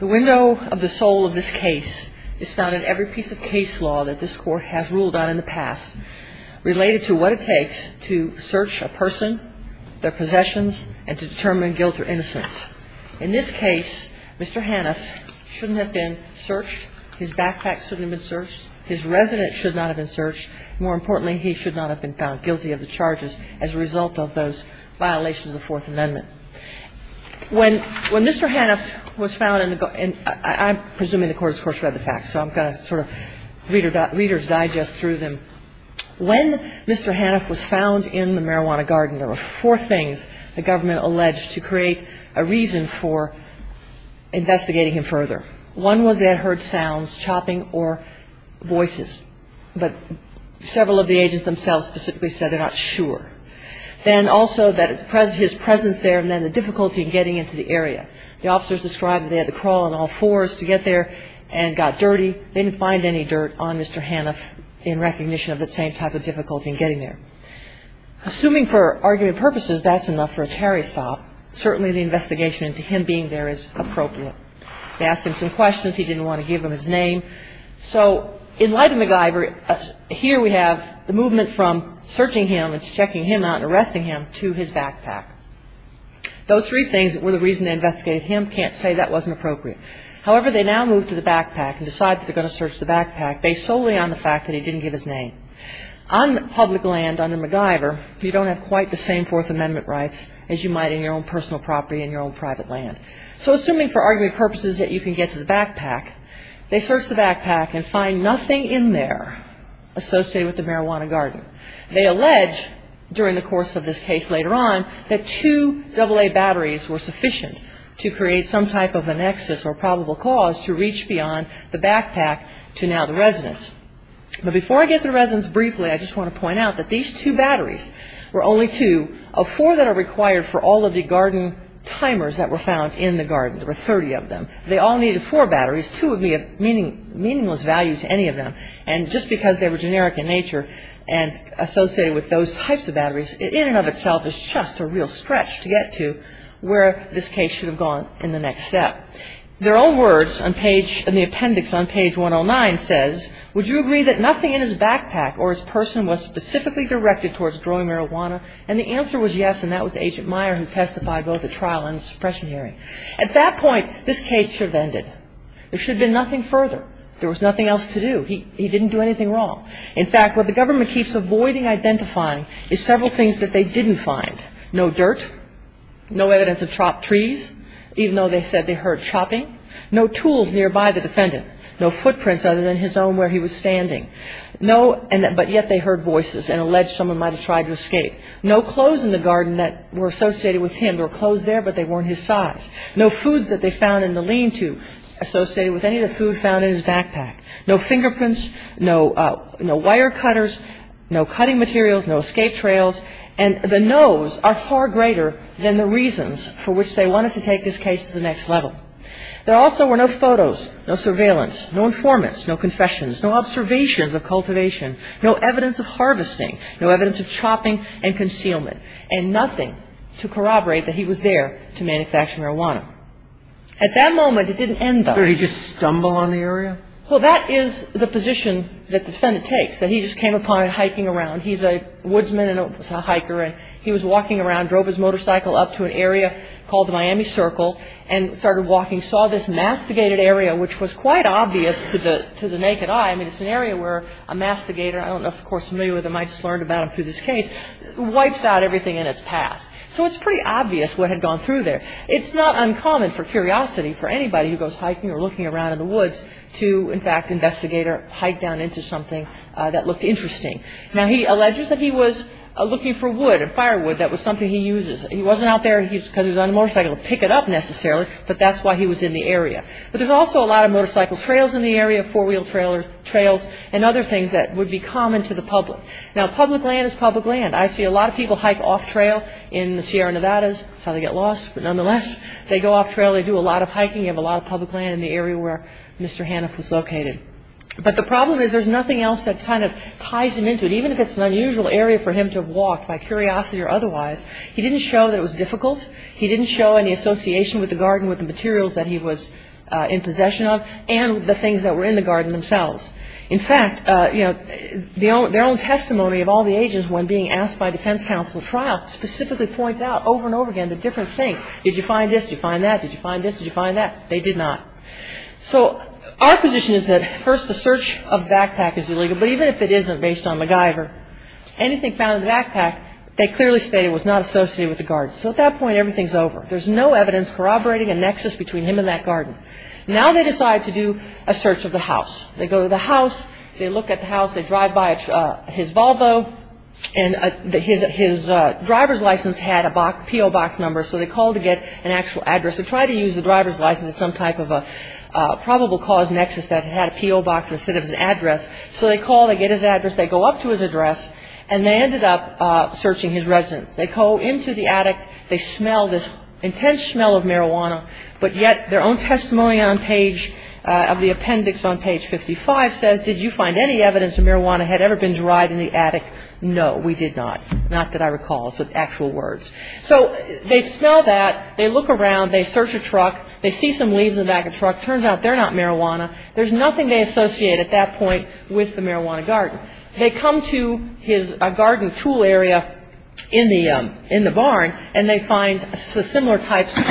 The window of the soul of this case is found in every piece of case law that this court has ruled on in the past, related to what it takes to search a person, their possessions, and to determine guilt or innocence. In this case, Mr. Hanft shouldn't have been searched, his backpack shouldn't have been searched, his residence should not have been searched, and more importantly, he should not have been found guilty of the charges as a result of those violations of the Fourth Amendment. When Mr. Hanft was found in the – and I'm presuming the court has, of course, read the facts, so I'm going to sort of readers' digest through them. When Mr. Hanft was found in the marijuana garden, there were four things the government alleged to create a reason for investigating him further. One was they had heard sounds, chopping or voices, but several of the agents themselves specifically said they're not sure. Then also that his presence there meant the difficulty in getting into the area. The officers described that they had to crawl in all fours to get there and got dirty. They didn't find any dirt on Mr. Hanft in recognition of that same type of difficulty in getting there. Assuming for argument purposes that's enough for a tarry stop, certainly the investigation into him being there is appropriate. They asked him some questions. He didn't want to give them his name. So in light of MacGyver, here we have the movement from searching him and checking him out and arresting him to his backpack. Those three things were the reason they investigated him. Can't say that wasn't appropriate. However, they now move to the backpack and decide that they're going to search the backpack based solely on the fact that he didn't give his name. On public land under MacGyver, you don't have quite the same Fourth Amendment rights as you might in your own personal property and your own private land. So assuming for argument purposes that you can get to the backpack, they search the backpack and find nothing in there associated with the marijuana garden. They allege during the course of this case later on that two AA batteries were sufficient to create some type of a nexus or probable cause to reach beyond the backpack to now the residence. But before I get to the residence briefly, I just want to point out that these two batteries were only two of four that are required for all of the garden timers that were found in the garden. There were 30 of them. They all needed four batteries. Two would be a meaningless value to any of them. And just because they were generic in nature and associated with those types of batteries, in and of itself is just a real stretch to get to where this case should have gone in the next step. Their own words in the appendix on page 109 says, At that point, this case should have ended. There should have been nothing further. There was nothing else to do. He didn't do anything wrong. In fact, what the government keeps avoiding identifying is several things that they didn't find. No dirt. No evidence of chopped trees, even though they said they heard chopping. And no evidence of any of the other items. No, but yet they heard voices and alleged someone might have tried to escape. No clothes in the garden that were associated with him. There were clothes there, but they weren't his size. No foods that they found in the lean-to associated with any of the food found in his backpack. No fingerprints. No wire cutters. No cutting materials. No escape trails. And the no's are far greater than the reasons for which they wanted to take this case to the next level. There also were no photos. No surveillance. No informants. No confessions. No observations of cultivation. No evidence of harvesting. No evidence of chopping and concealment. And nothing to corroborate that he was there to manufacture marijuana. At that moment, it didn't end, though. Did he just stumble on the area? Well, that is the position that the defendant takes, that he just came upon it hiking around. He's a woodsman and a hiker, and he was walking around, drove his motorcycle up to an area called the Miami Circle and started walking, saw this masticated area, which was quite obvious to the naked eye. I mean, it's an area where a masticator, I don't know if you're familiar with him, I just learned about him through this case, wipes out everything in its path. So it's pretty obvious what had gone through there. It's not uncommon for curiosity for anybody who goes hiking or looking around in the woods to, in fact, investigate or hike down into something that looked interesting. Now, he alleges that he was looking for wood, firewood, that was something he uses. He wasn't out there because he was on a motorcycle to pick it up, necessarily, but that's why he was in the area. But there's also a lot of motorcycle trails in the area, four-wheel trails, and other things that would be common to the public. Now, public land is public land. I see a lot of people hike off-trail in the Sierra Nevadas. That's how they get lost, but nonetheless, they go off-trail, they do a lot of hiking, you have a lot of public land in the area where Mr. Haniff was located. But the problem is there's nothing else that kind of ties him into it, even if it's an unusual area for him to have walked by curiosity or otherwise. He didn't show that it was difficult. He didn't show any association with the garden, with the materials that he was in possession of, and the things that were in the garden themselves. In fact, their own testimony of all the agents when being asked by defense counsel at trial specifically points out over and over again the different things. Did you find this? Did you find that? Did you find this? Did you find that? They did not. So our position is that, first, the search of the backpack is illegal, but even if it isn't based on MacGyver, anything found in the backpack, they clearly state it was not associated with the garden. So at that point, everything's over. There's no evidence corroborating a nexus between him and that garden. Now they decide to do a search of the house. They go to the house. They look at the house. They drive by his Volvo, and his driver's license had a P.O. box number, so they call to get an actual address. They try to use the driver's license as some type of a probable cause nexus that had a P.O. box instead of his address. So they call. They get his address. They go up to his address, and they ended up searching his residence. They go into the attic. They smell this intense smell of marijuana, but yet their own testimony on page of the appendix on page 55 says, did you find any evidence that marijuana had ever been derived in the attic? No, we did not. Not that I recall. It's actual words. So they smell that. They look around. They search a truck. They see some leaves in the back of the truck. Turns out they're not marijuana. There's nothing they associate at that point with the marijuana garden. They come to his garden tool area in the barn, and they find similar types of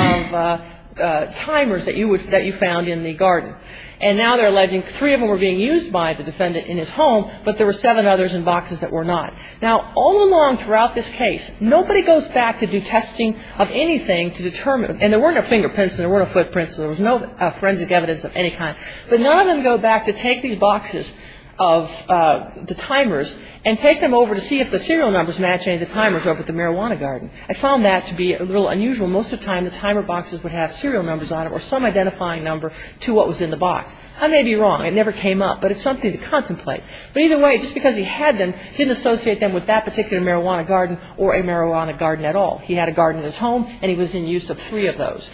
timers that you found in the garden. And now they're alleging three of them were being used by the defendant in his home, but there were seven others in boxes that were not. Now, all along throughout this case, nobody goes back to do testing of anything to determine, and there weren't a fingerprint, so there weren't a footprint, so there was no forensic evidence of any kind. But none of them go back to take these boxes of the timers and take them over to see if the serial numbers match any of the timers over at the marijuana garden. I found that to be a little unusual. Most of the time, the timer boxes would have serial numbers on them or some identifying number to what was in the box. I may be wrong. It never came up, but it's something to contemplate. But either way, just because he had them, he didn't associate them with that particular marijuana garden or a marijuana garden at all. He had a garden in his home, and he was in use of three of those.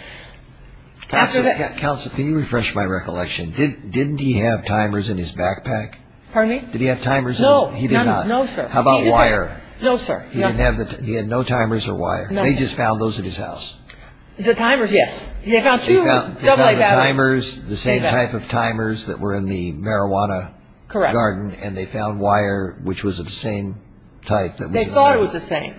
Counsel, can you refresh my recollection? Didn't he have timers in his backpack? Pardon me? Did he have timers in his? No. He did not. No, sir. How about wire? No, sir. He had no timers or wire. No, sir. They just found those at his house. The timers, yes. They found two double-A batteries. They found the timers, the same type of timers that were in the marijuana garden, and they found wire which was of the same type that was in the box. They thought it was the same.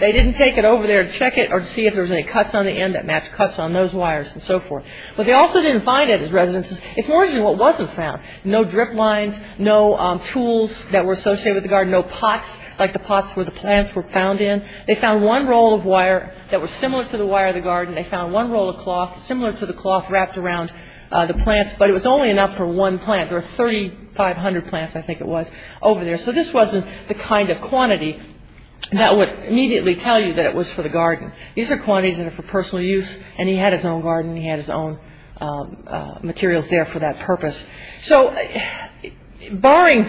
They didn't take it over there to check it or to see if there was any cuts on the end that matched cuts on those wires and so forth. But they also didn't find it at his residence. It's more than what wasn't found. No drip lines, no tools that were associated with the garden, no pots like the pots where the plants were found in. They found one roll of wire that was similar to the wire of the garden. They found one roll of cloth similar to the cloth wrapped around the plants, but it was only enough for one plant. There were 3,500 plants, I think it was, over there. So this wasn't the kind of quantity that would immediately tell you that it was for the garden. These are quantities that are for personal use, and he had his own garden and he had his own materials there for that purpose. So barring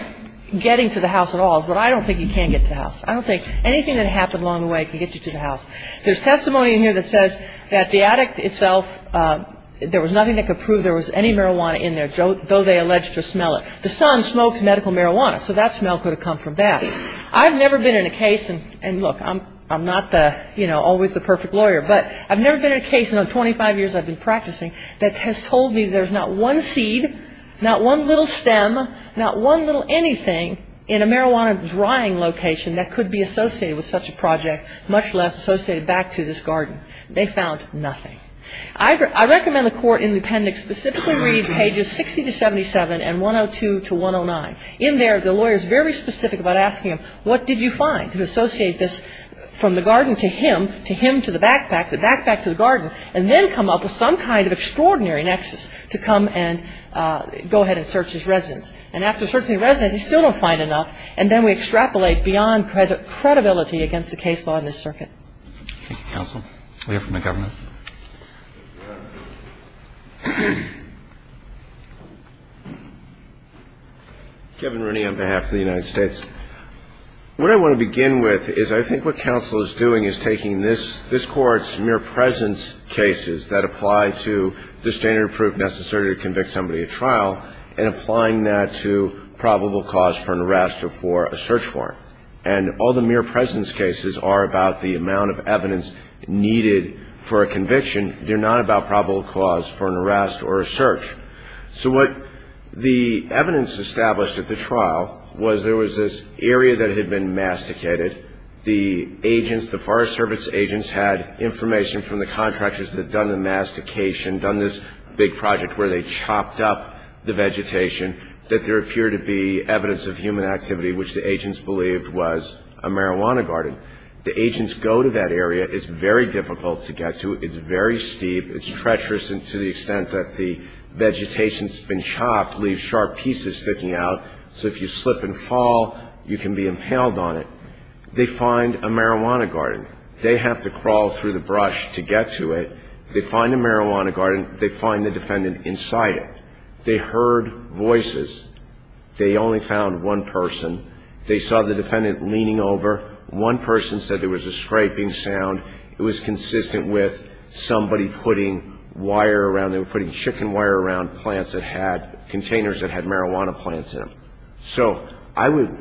getting to the house at all is what I don't think you can get to the house. I don't think anything that happened along the way can get you to the house. There's testimony in here that says that the addict itself, there was nothing that could prove there was any marijuana in there, though they alleged to smell it. The son smoked medical marijuana, so that smell could have come from that. I've never been in a case, and look, I'm not always the perfect lawyer, but I've never been in a case in the 25 years I've been practicing that has told me there's not one seed, not one little stem, not one little anything in a marijuana drying location that could be associated with such a project, much less associated back to this garden. They found nothing. I recommend the court in the appendix specifically read pages 60 to 77 and 102 to 109. In there, the lawyer is very specific about asking him, what did you find to associate this from the garden to him, to him to the backpack, the backpack to the garden, and then come up with some kind of extraordinary nexus to come and go ahead and search his residence. And after searching the residence, he still don't find enough, and then we extrapolate beyond credibility against the case law in this circuit. Thank you, counsel. We have from the government. Kevin Rooney on behalf of the United States. What I want to begin with is I think what counsel is doing is taking this court's mere presence cases that apply to the standard proof necessary to convict somebody at trial and applying that to probable cause for an arrest or for a search warrant. And all the mere presence cases are about the amount of evidence needed for a conviction. They're not about probable cause for an arrest or a search. So what the evidence established at the trial was there was this area that had been masticated. The agents, the Forest Service agents, had information from the contractors that had done the mastication, done this big project where they chopped up the vegetation, that there appeared to be evidence of human activity which the agents believed was a marijuana garden. The agents go to that area. It's very difficult to get to. It's very steep. It's treacherous to the extent that the vegetation's been chopped, leaves sharp pieces sticking out. So if you slip and fall, you can be impaled on it. They find a marijuana garden. They have to crawl through the brush to get to it. They find a marijuana garden. They find the defendant inside it. They heard voices. They only found one person. They saw the defendant leaning over. One person said there was a scraping sound. It was consistent with somebody putting wire around. They were putting chicken wire around plants that had containers that had marijuana plants in them. So I would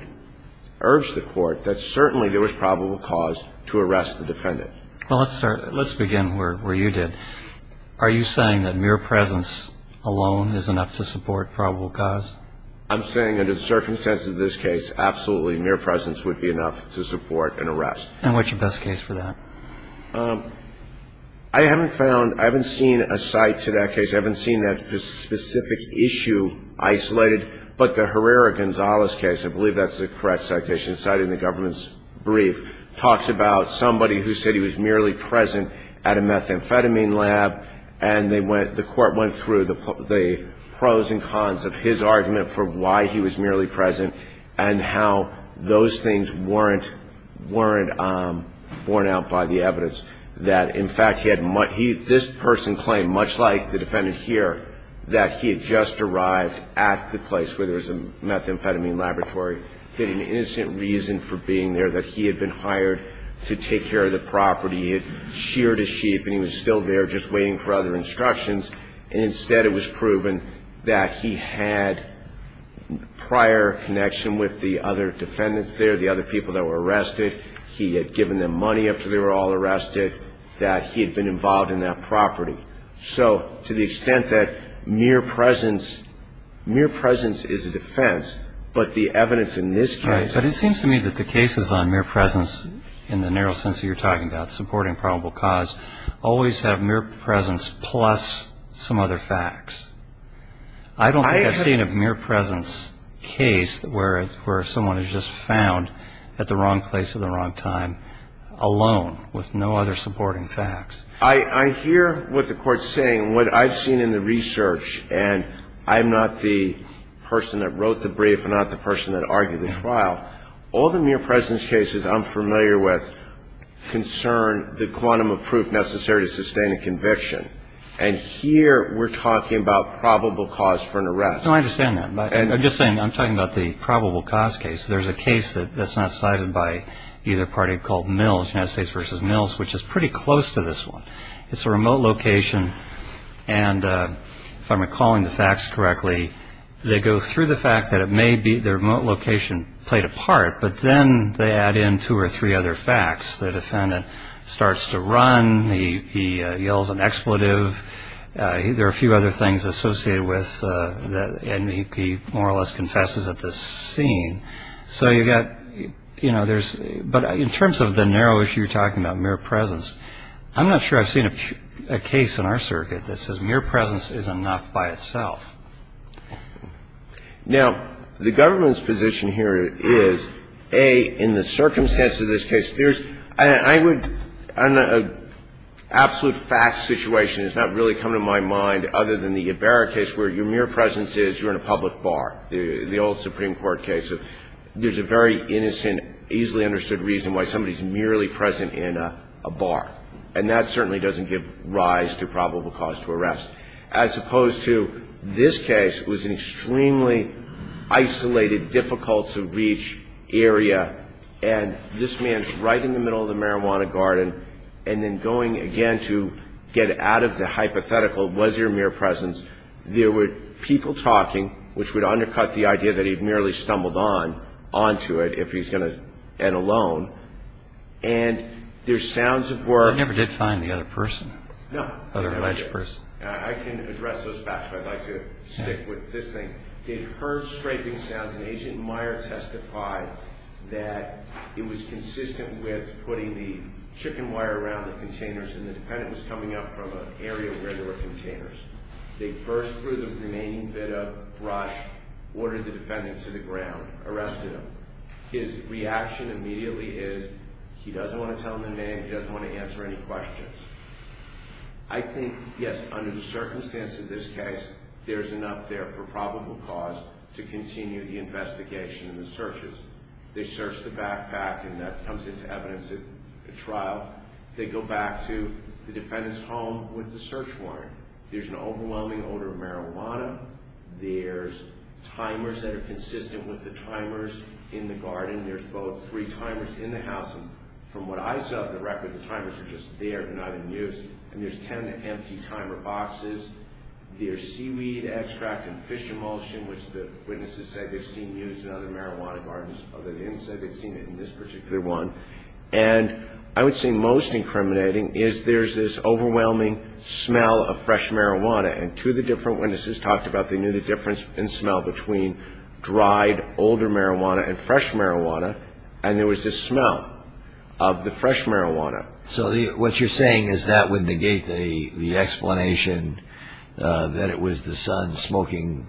urge the court that certainly there was probable cause to arrest the defendant. Well, let's start. Let's begin where you did. Are you saying that mere presence alone is enough to support probable cause? I'm saying under the circumstances of this case, absolutely mere presence would be enough to support an arrest. And what's your best case for that? I haven't found ñ I haven't seen a cite to that case. I haven't seen that specific issue isolated. But the Herrera-Gonzalez case, I believe that's the correct citation, cited in the government's brief, talks about somebody who said he was merely present at a methamphetamine lab. And the court went through the pros and cons of his argument for why he was merely present and how those things weren't borne out by the evidence. That, in fact, this person claimed, much like the defendant here, that he had just arrived at the place where there was a methamphetamine laboratory, that he had an innocent reason for being there, that he had been hired to take care of the property. He had sheared his sheep and he was still there just waiting for other instructions. And instead it was proven that he had prior connection with the other defendants there, the other people that were arrested. He had given them money after they were all arrested, that he had been involved in that property. So to the extent that mere presence, mere presence is a defense, but the evidence in this case. But it seems to me that the cases on mere presence in the narrow sense that you're talking about, supporting probable cause, always have mere presence plus some other facts. I don't think I've seen a mere presence case where someone is just found at the wrong place at the wrong time alone with no other supporting facts. I hear what the Court's saying. What I've seen in the research, and I'm not the person that wrote the brief, I'm not the person that argued the trial, all the mere presence cases I'm familiar with concern the quantum of proof necessary to sustain a conviction. And here we're talking about probable cause for an arrest. No, I understand that. I'm just saying I'm talking about the probable cause case. There's a case that's not cited by either party called Mills, United States v. Mills, which is pretty close to this one. It's a remote location, and if I'm recalling the facts correctly, they go through the fact that it may be the remote location played a part, but then they add in two or three other facts. The defendant starts to run. He yells an expletive. There are a few other things associated with that, and he more or less confesses at this scene. So you've got, you know, there's – but in terms of the narrow issue you're talking about, mere presence, I'm not sure I've seen a case in our circuit that says mere presence is enough by itself. Now, the government's position here is, A, in the circumstance of this case, there's – I would – an absolute fact situation has not really come to my mind other than the Ibarra case where your mere presence is you're in a public bar, the old Supreme Court case. There's a very innocent, easily understood reason why somebody's merely present in a bar, and that certainly doesn't give rise to probable cause to arrest. As opposed to this case, it was an extremely isolated, difficult-to-reach area, and this man's right in the middle of the marijuana garden, and then going again to get out of the hypothetical, was there mere presence. There were people talking, which would undercut the idea that he'd merely stumbled on, onto it if he's going to end alone, and there's sounds of where – You never did find the other person? No. Other alleged person? I can address those facts, but I'd like to stick with this thing. They heard scraping sounds, and Agent Meyer testified that it was consistent with putting the chicken wire around the containers, and the defendant was coming up from an area where there were containers. They burst through the remaining bit of brush, ordered the defendant to the ground, arrested him. His reaction immediately is, he doesn't want to tell them the name, he doesn't want to answer any questions. I think, yes, under the circumstance of this case, there's enough there for probable cause to continue the investigation and the searches. They search the backpack, and that comes into evidence at trial. They go back to the defendant's home with the search warrant. There's an overwhelming odor of marijuana. There's timers that are consistent with the timers in the garden. There's both three timers in the house, and from what I saw of the record, the timers were just there and not in use. And there's ten empty timer boxes. There's seaweed extract and fish emulsion, which the witnesses say they've seen used in other marijuana gardens, although they didn't say they'd seen it in this particular one. And I would say most incriminating is there's this overwhelming smell of fresh marijuana, and to the different witnesses talked about, they knew the difference in smell between dried, older marijuana and fresh marijuana, and there was this smell of the fresh marijuana. So what you're saying is that would negate the explanation that it was the son smoking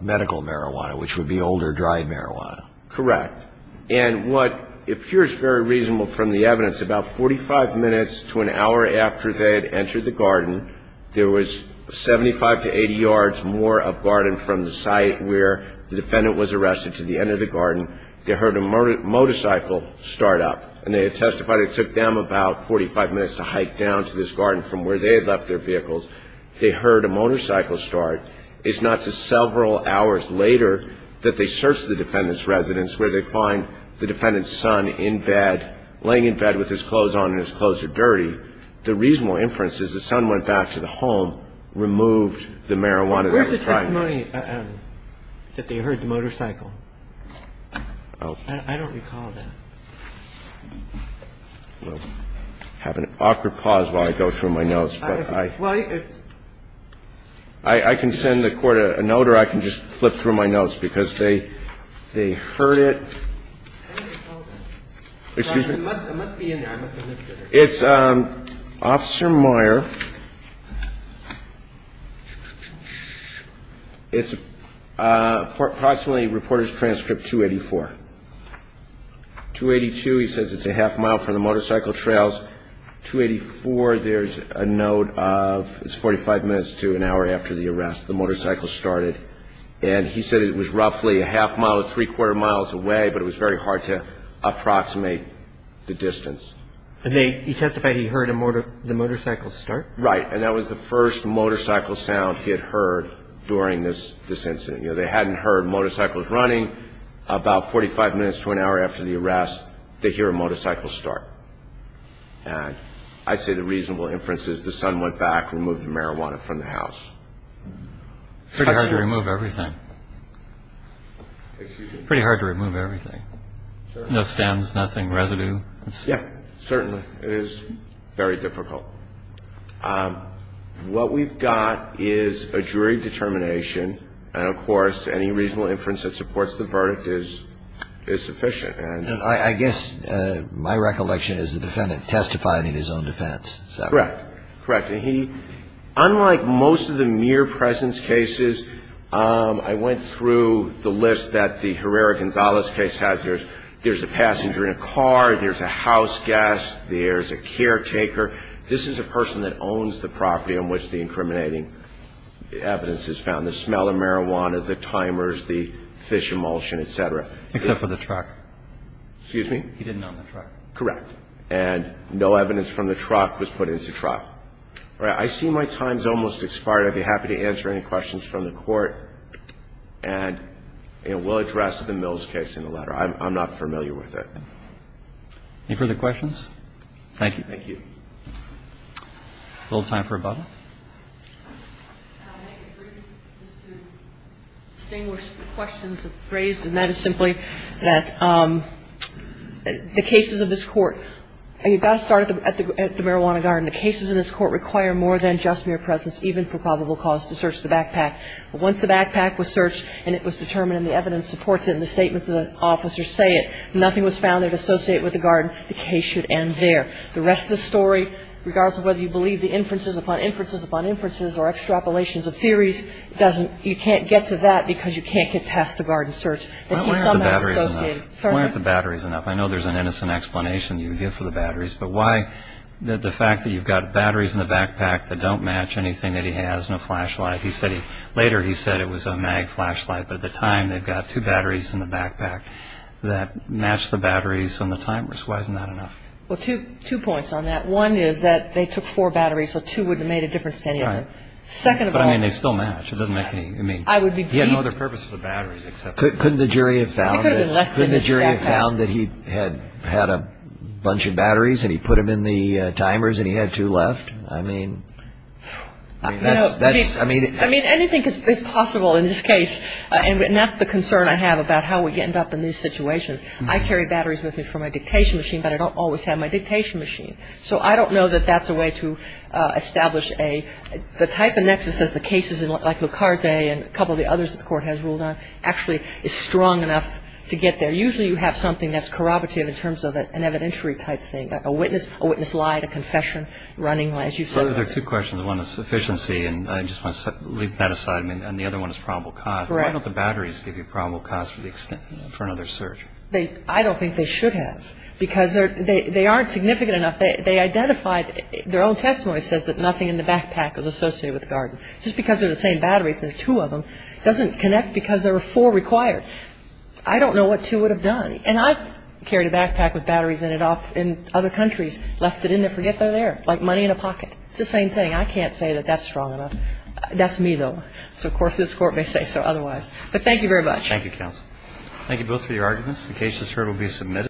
medical marijuana, which would be older, dried marijuana. Correct. And what appears very reasonable from the evidence, about 45 minutes to an hour after they had entered the garden, there was 75 to 80 yards more of garden from the site where the defendant was arrested to the end of the garden. They heard a motorcycle start up, and they had testified it took them about 45 minutes to hike down to this garden from where they had left their vehicles. They heard a motorcycle start. The reason I'm saying that is not to several hours later that they search the defendant's residence where they find the defendant's son in bed, laying in bed with his clothes on and his clothes are dirty. The reasonable inference is the son went back to the home, removed the marijuana that he was trying to make. Where's the testimony that they heard the motorcycle? I don't recall that. I have an awkward pause while I go through my notes. I can send the Court a note, or I can just flip through my notes, because they heard it. Excuse me? It must be in there. It's Officer Meyer. It's approximately Reporters' Transcript 284. 282, he says it's a half mile from the motorcycle trails. 284, there's a note of it's 45 minutes to an hour after the arrest, the motorcycle started. And he said it was roughly a half mile, three-quarter miles away, but it was very hard to approximate the distance. And he testified he heard the motorcycle start? Right, and that was the first motorcycle sound he had heard during this incident. You know, they hadn't heard motorcycles running. About 45 minutes to an hour after the arrest, they hear a motorcycle start. And I say the reasonable inference is the son went back, removed the marijuana from the house. It's pretty hard to remove everything. Pretty hard to remove everything. No stems, nothing, residue? Yeah, certainly. It is very difficult. What we've got is a jury determination. And, of course, any reasonable inference that supports the verdict is sufficient. I guess my recollection is the defendant testified in his own defense. Correct. Correct. And he, unlike most of the mere presence cases, I went through the list that the Herrera-Gonzalez case has. There's a passenger in a car. There's a house guest. There's a caretaker. This is a person that owns the property on which the incriminating evidence is found. The smell of marijuana, the timers, the fish emulsion, et cetera. Except for the truck. Excuse me? He didn't own the truck. Correct. And no evidence from the truck was put into trial. All right. I see my time's almost expired. I'd be happy to answer any questions from the Court. And, you know, we'll address the Mills case in the letter. I'm not familiar with it. Any further questions? Thank you. Thank you. A little time for a bubble. I may agree just to distinguish the questions that were raised, and that is simply that the cases of this Court, you've got to start at the marijuana garden. The cases in this Court require more than just mere presence, even for probable cause, to search the backpack. But once the backpack was searched and it was determined and the evidence supports it and the statements of the officers say it, nothing was found there to associate with the garden, the case should end there. The rest of the story, regardless of whether you believe the inferences upon inferences upon inferences or extrapolations of theories, you can't get to that because you can't get past the garden search. It is somehow associated. Why aren't the batteries enough? I know there's an innocent explanation you give for the batteries, but why the fact that you've got batteries in the backpack that don't match anything that he has, no flashlight? Later he said it was a mag flashlight, but at the time they've got two batteries in the backpack that match the batteries on the timers. Why isn't that enough? Well, two points on that. One is that they took four batteries, so two wouldn't have made a difference to any of them. Right. Second of all... But, I mean, they still match. It doesn't make any, I mean... I would be... He had no other purpose for the batteries except... Couldn't the jury have found that... I couldn't have left them in the backpack. Couldn't the jury have found that he had had a bunch of batteries and he put them in the timers and he had two left? I mean, that's, I mean... I mean, anything is possible in this case, and that's the concern I have about how we end up in these situations. I carry batteries with me for my dictation machine, but I don't always have my dictation machine. So I don't know that that's a way to establish a... The type of nexus is the cases like Lucard's A and a couple of the others that the Court has ruled on actually is strong enough to get there. Usually you have something that's corroborative in terms of an evidentiary type thing, like a witness lied, a confession, running lies. So there are two questions. One is sufficiency, and I just want to leave that aside. And the other one is probable cause. Correct. Why don't the batteries give you probable cause for another search? I don't think they should have, because they aren't significant enough. They identified, their own testimony says that nothing in the backpack is associated with the garden. Just because they're the same batteries and there are two of them doesn't connect because there were four required. I don't know what two would have done. And I've carried a backpack with batteries in it off in other countries, left it in there, forget they're there, like money in a pocket. It's the same thing. I can't say that that's strong enough. That's me, though. So, of course, this Court may say so otherwise. But thank you very much. Thank you, counsel. Thank you both for your arguments. The case, as heard, will be submitted.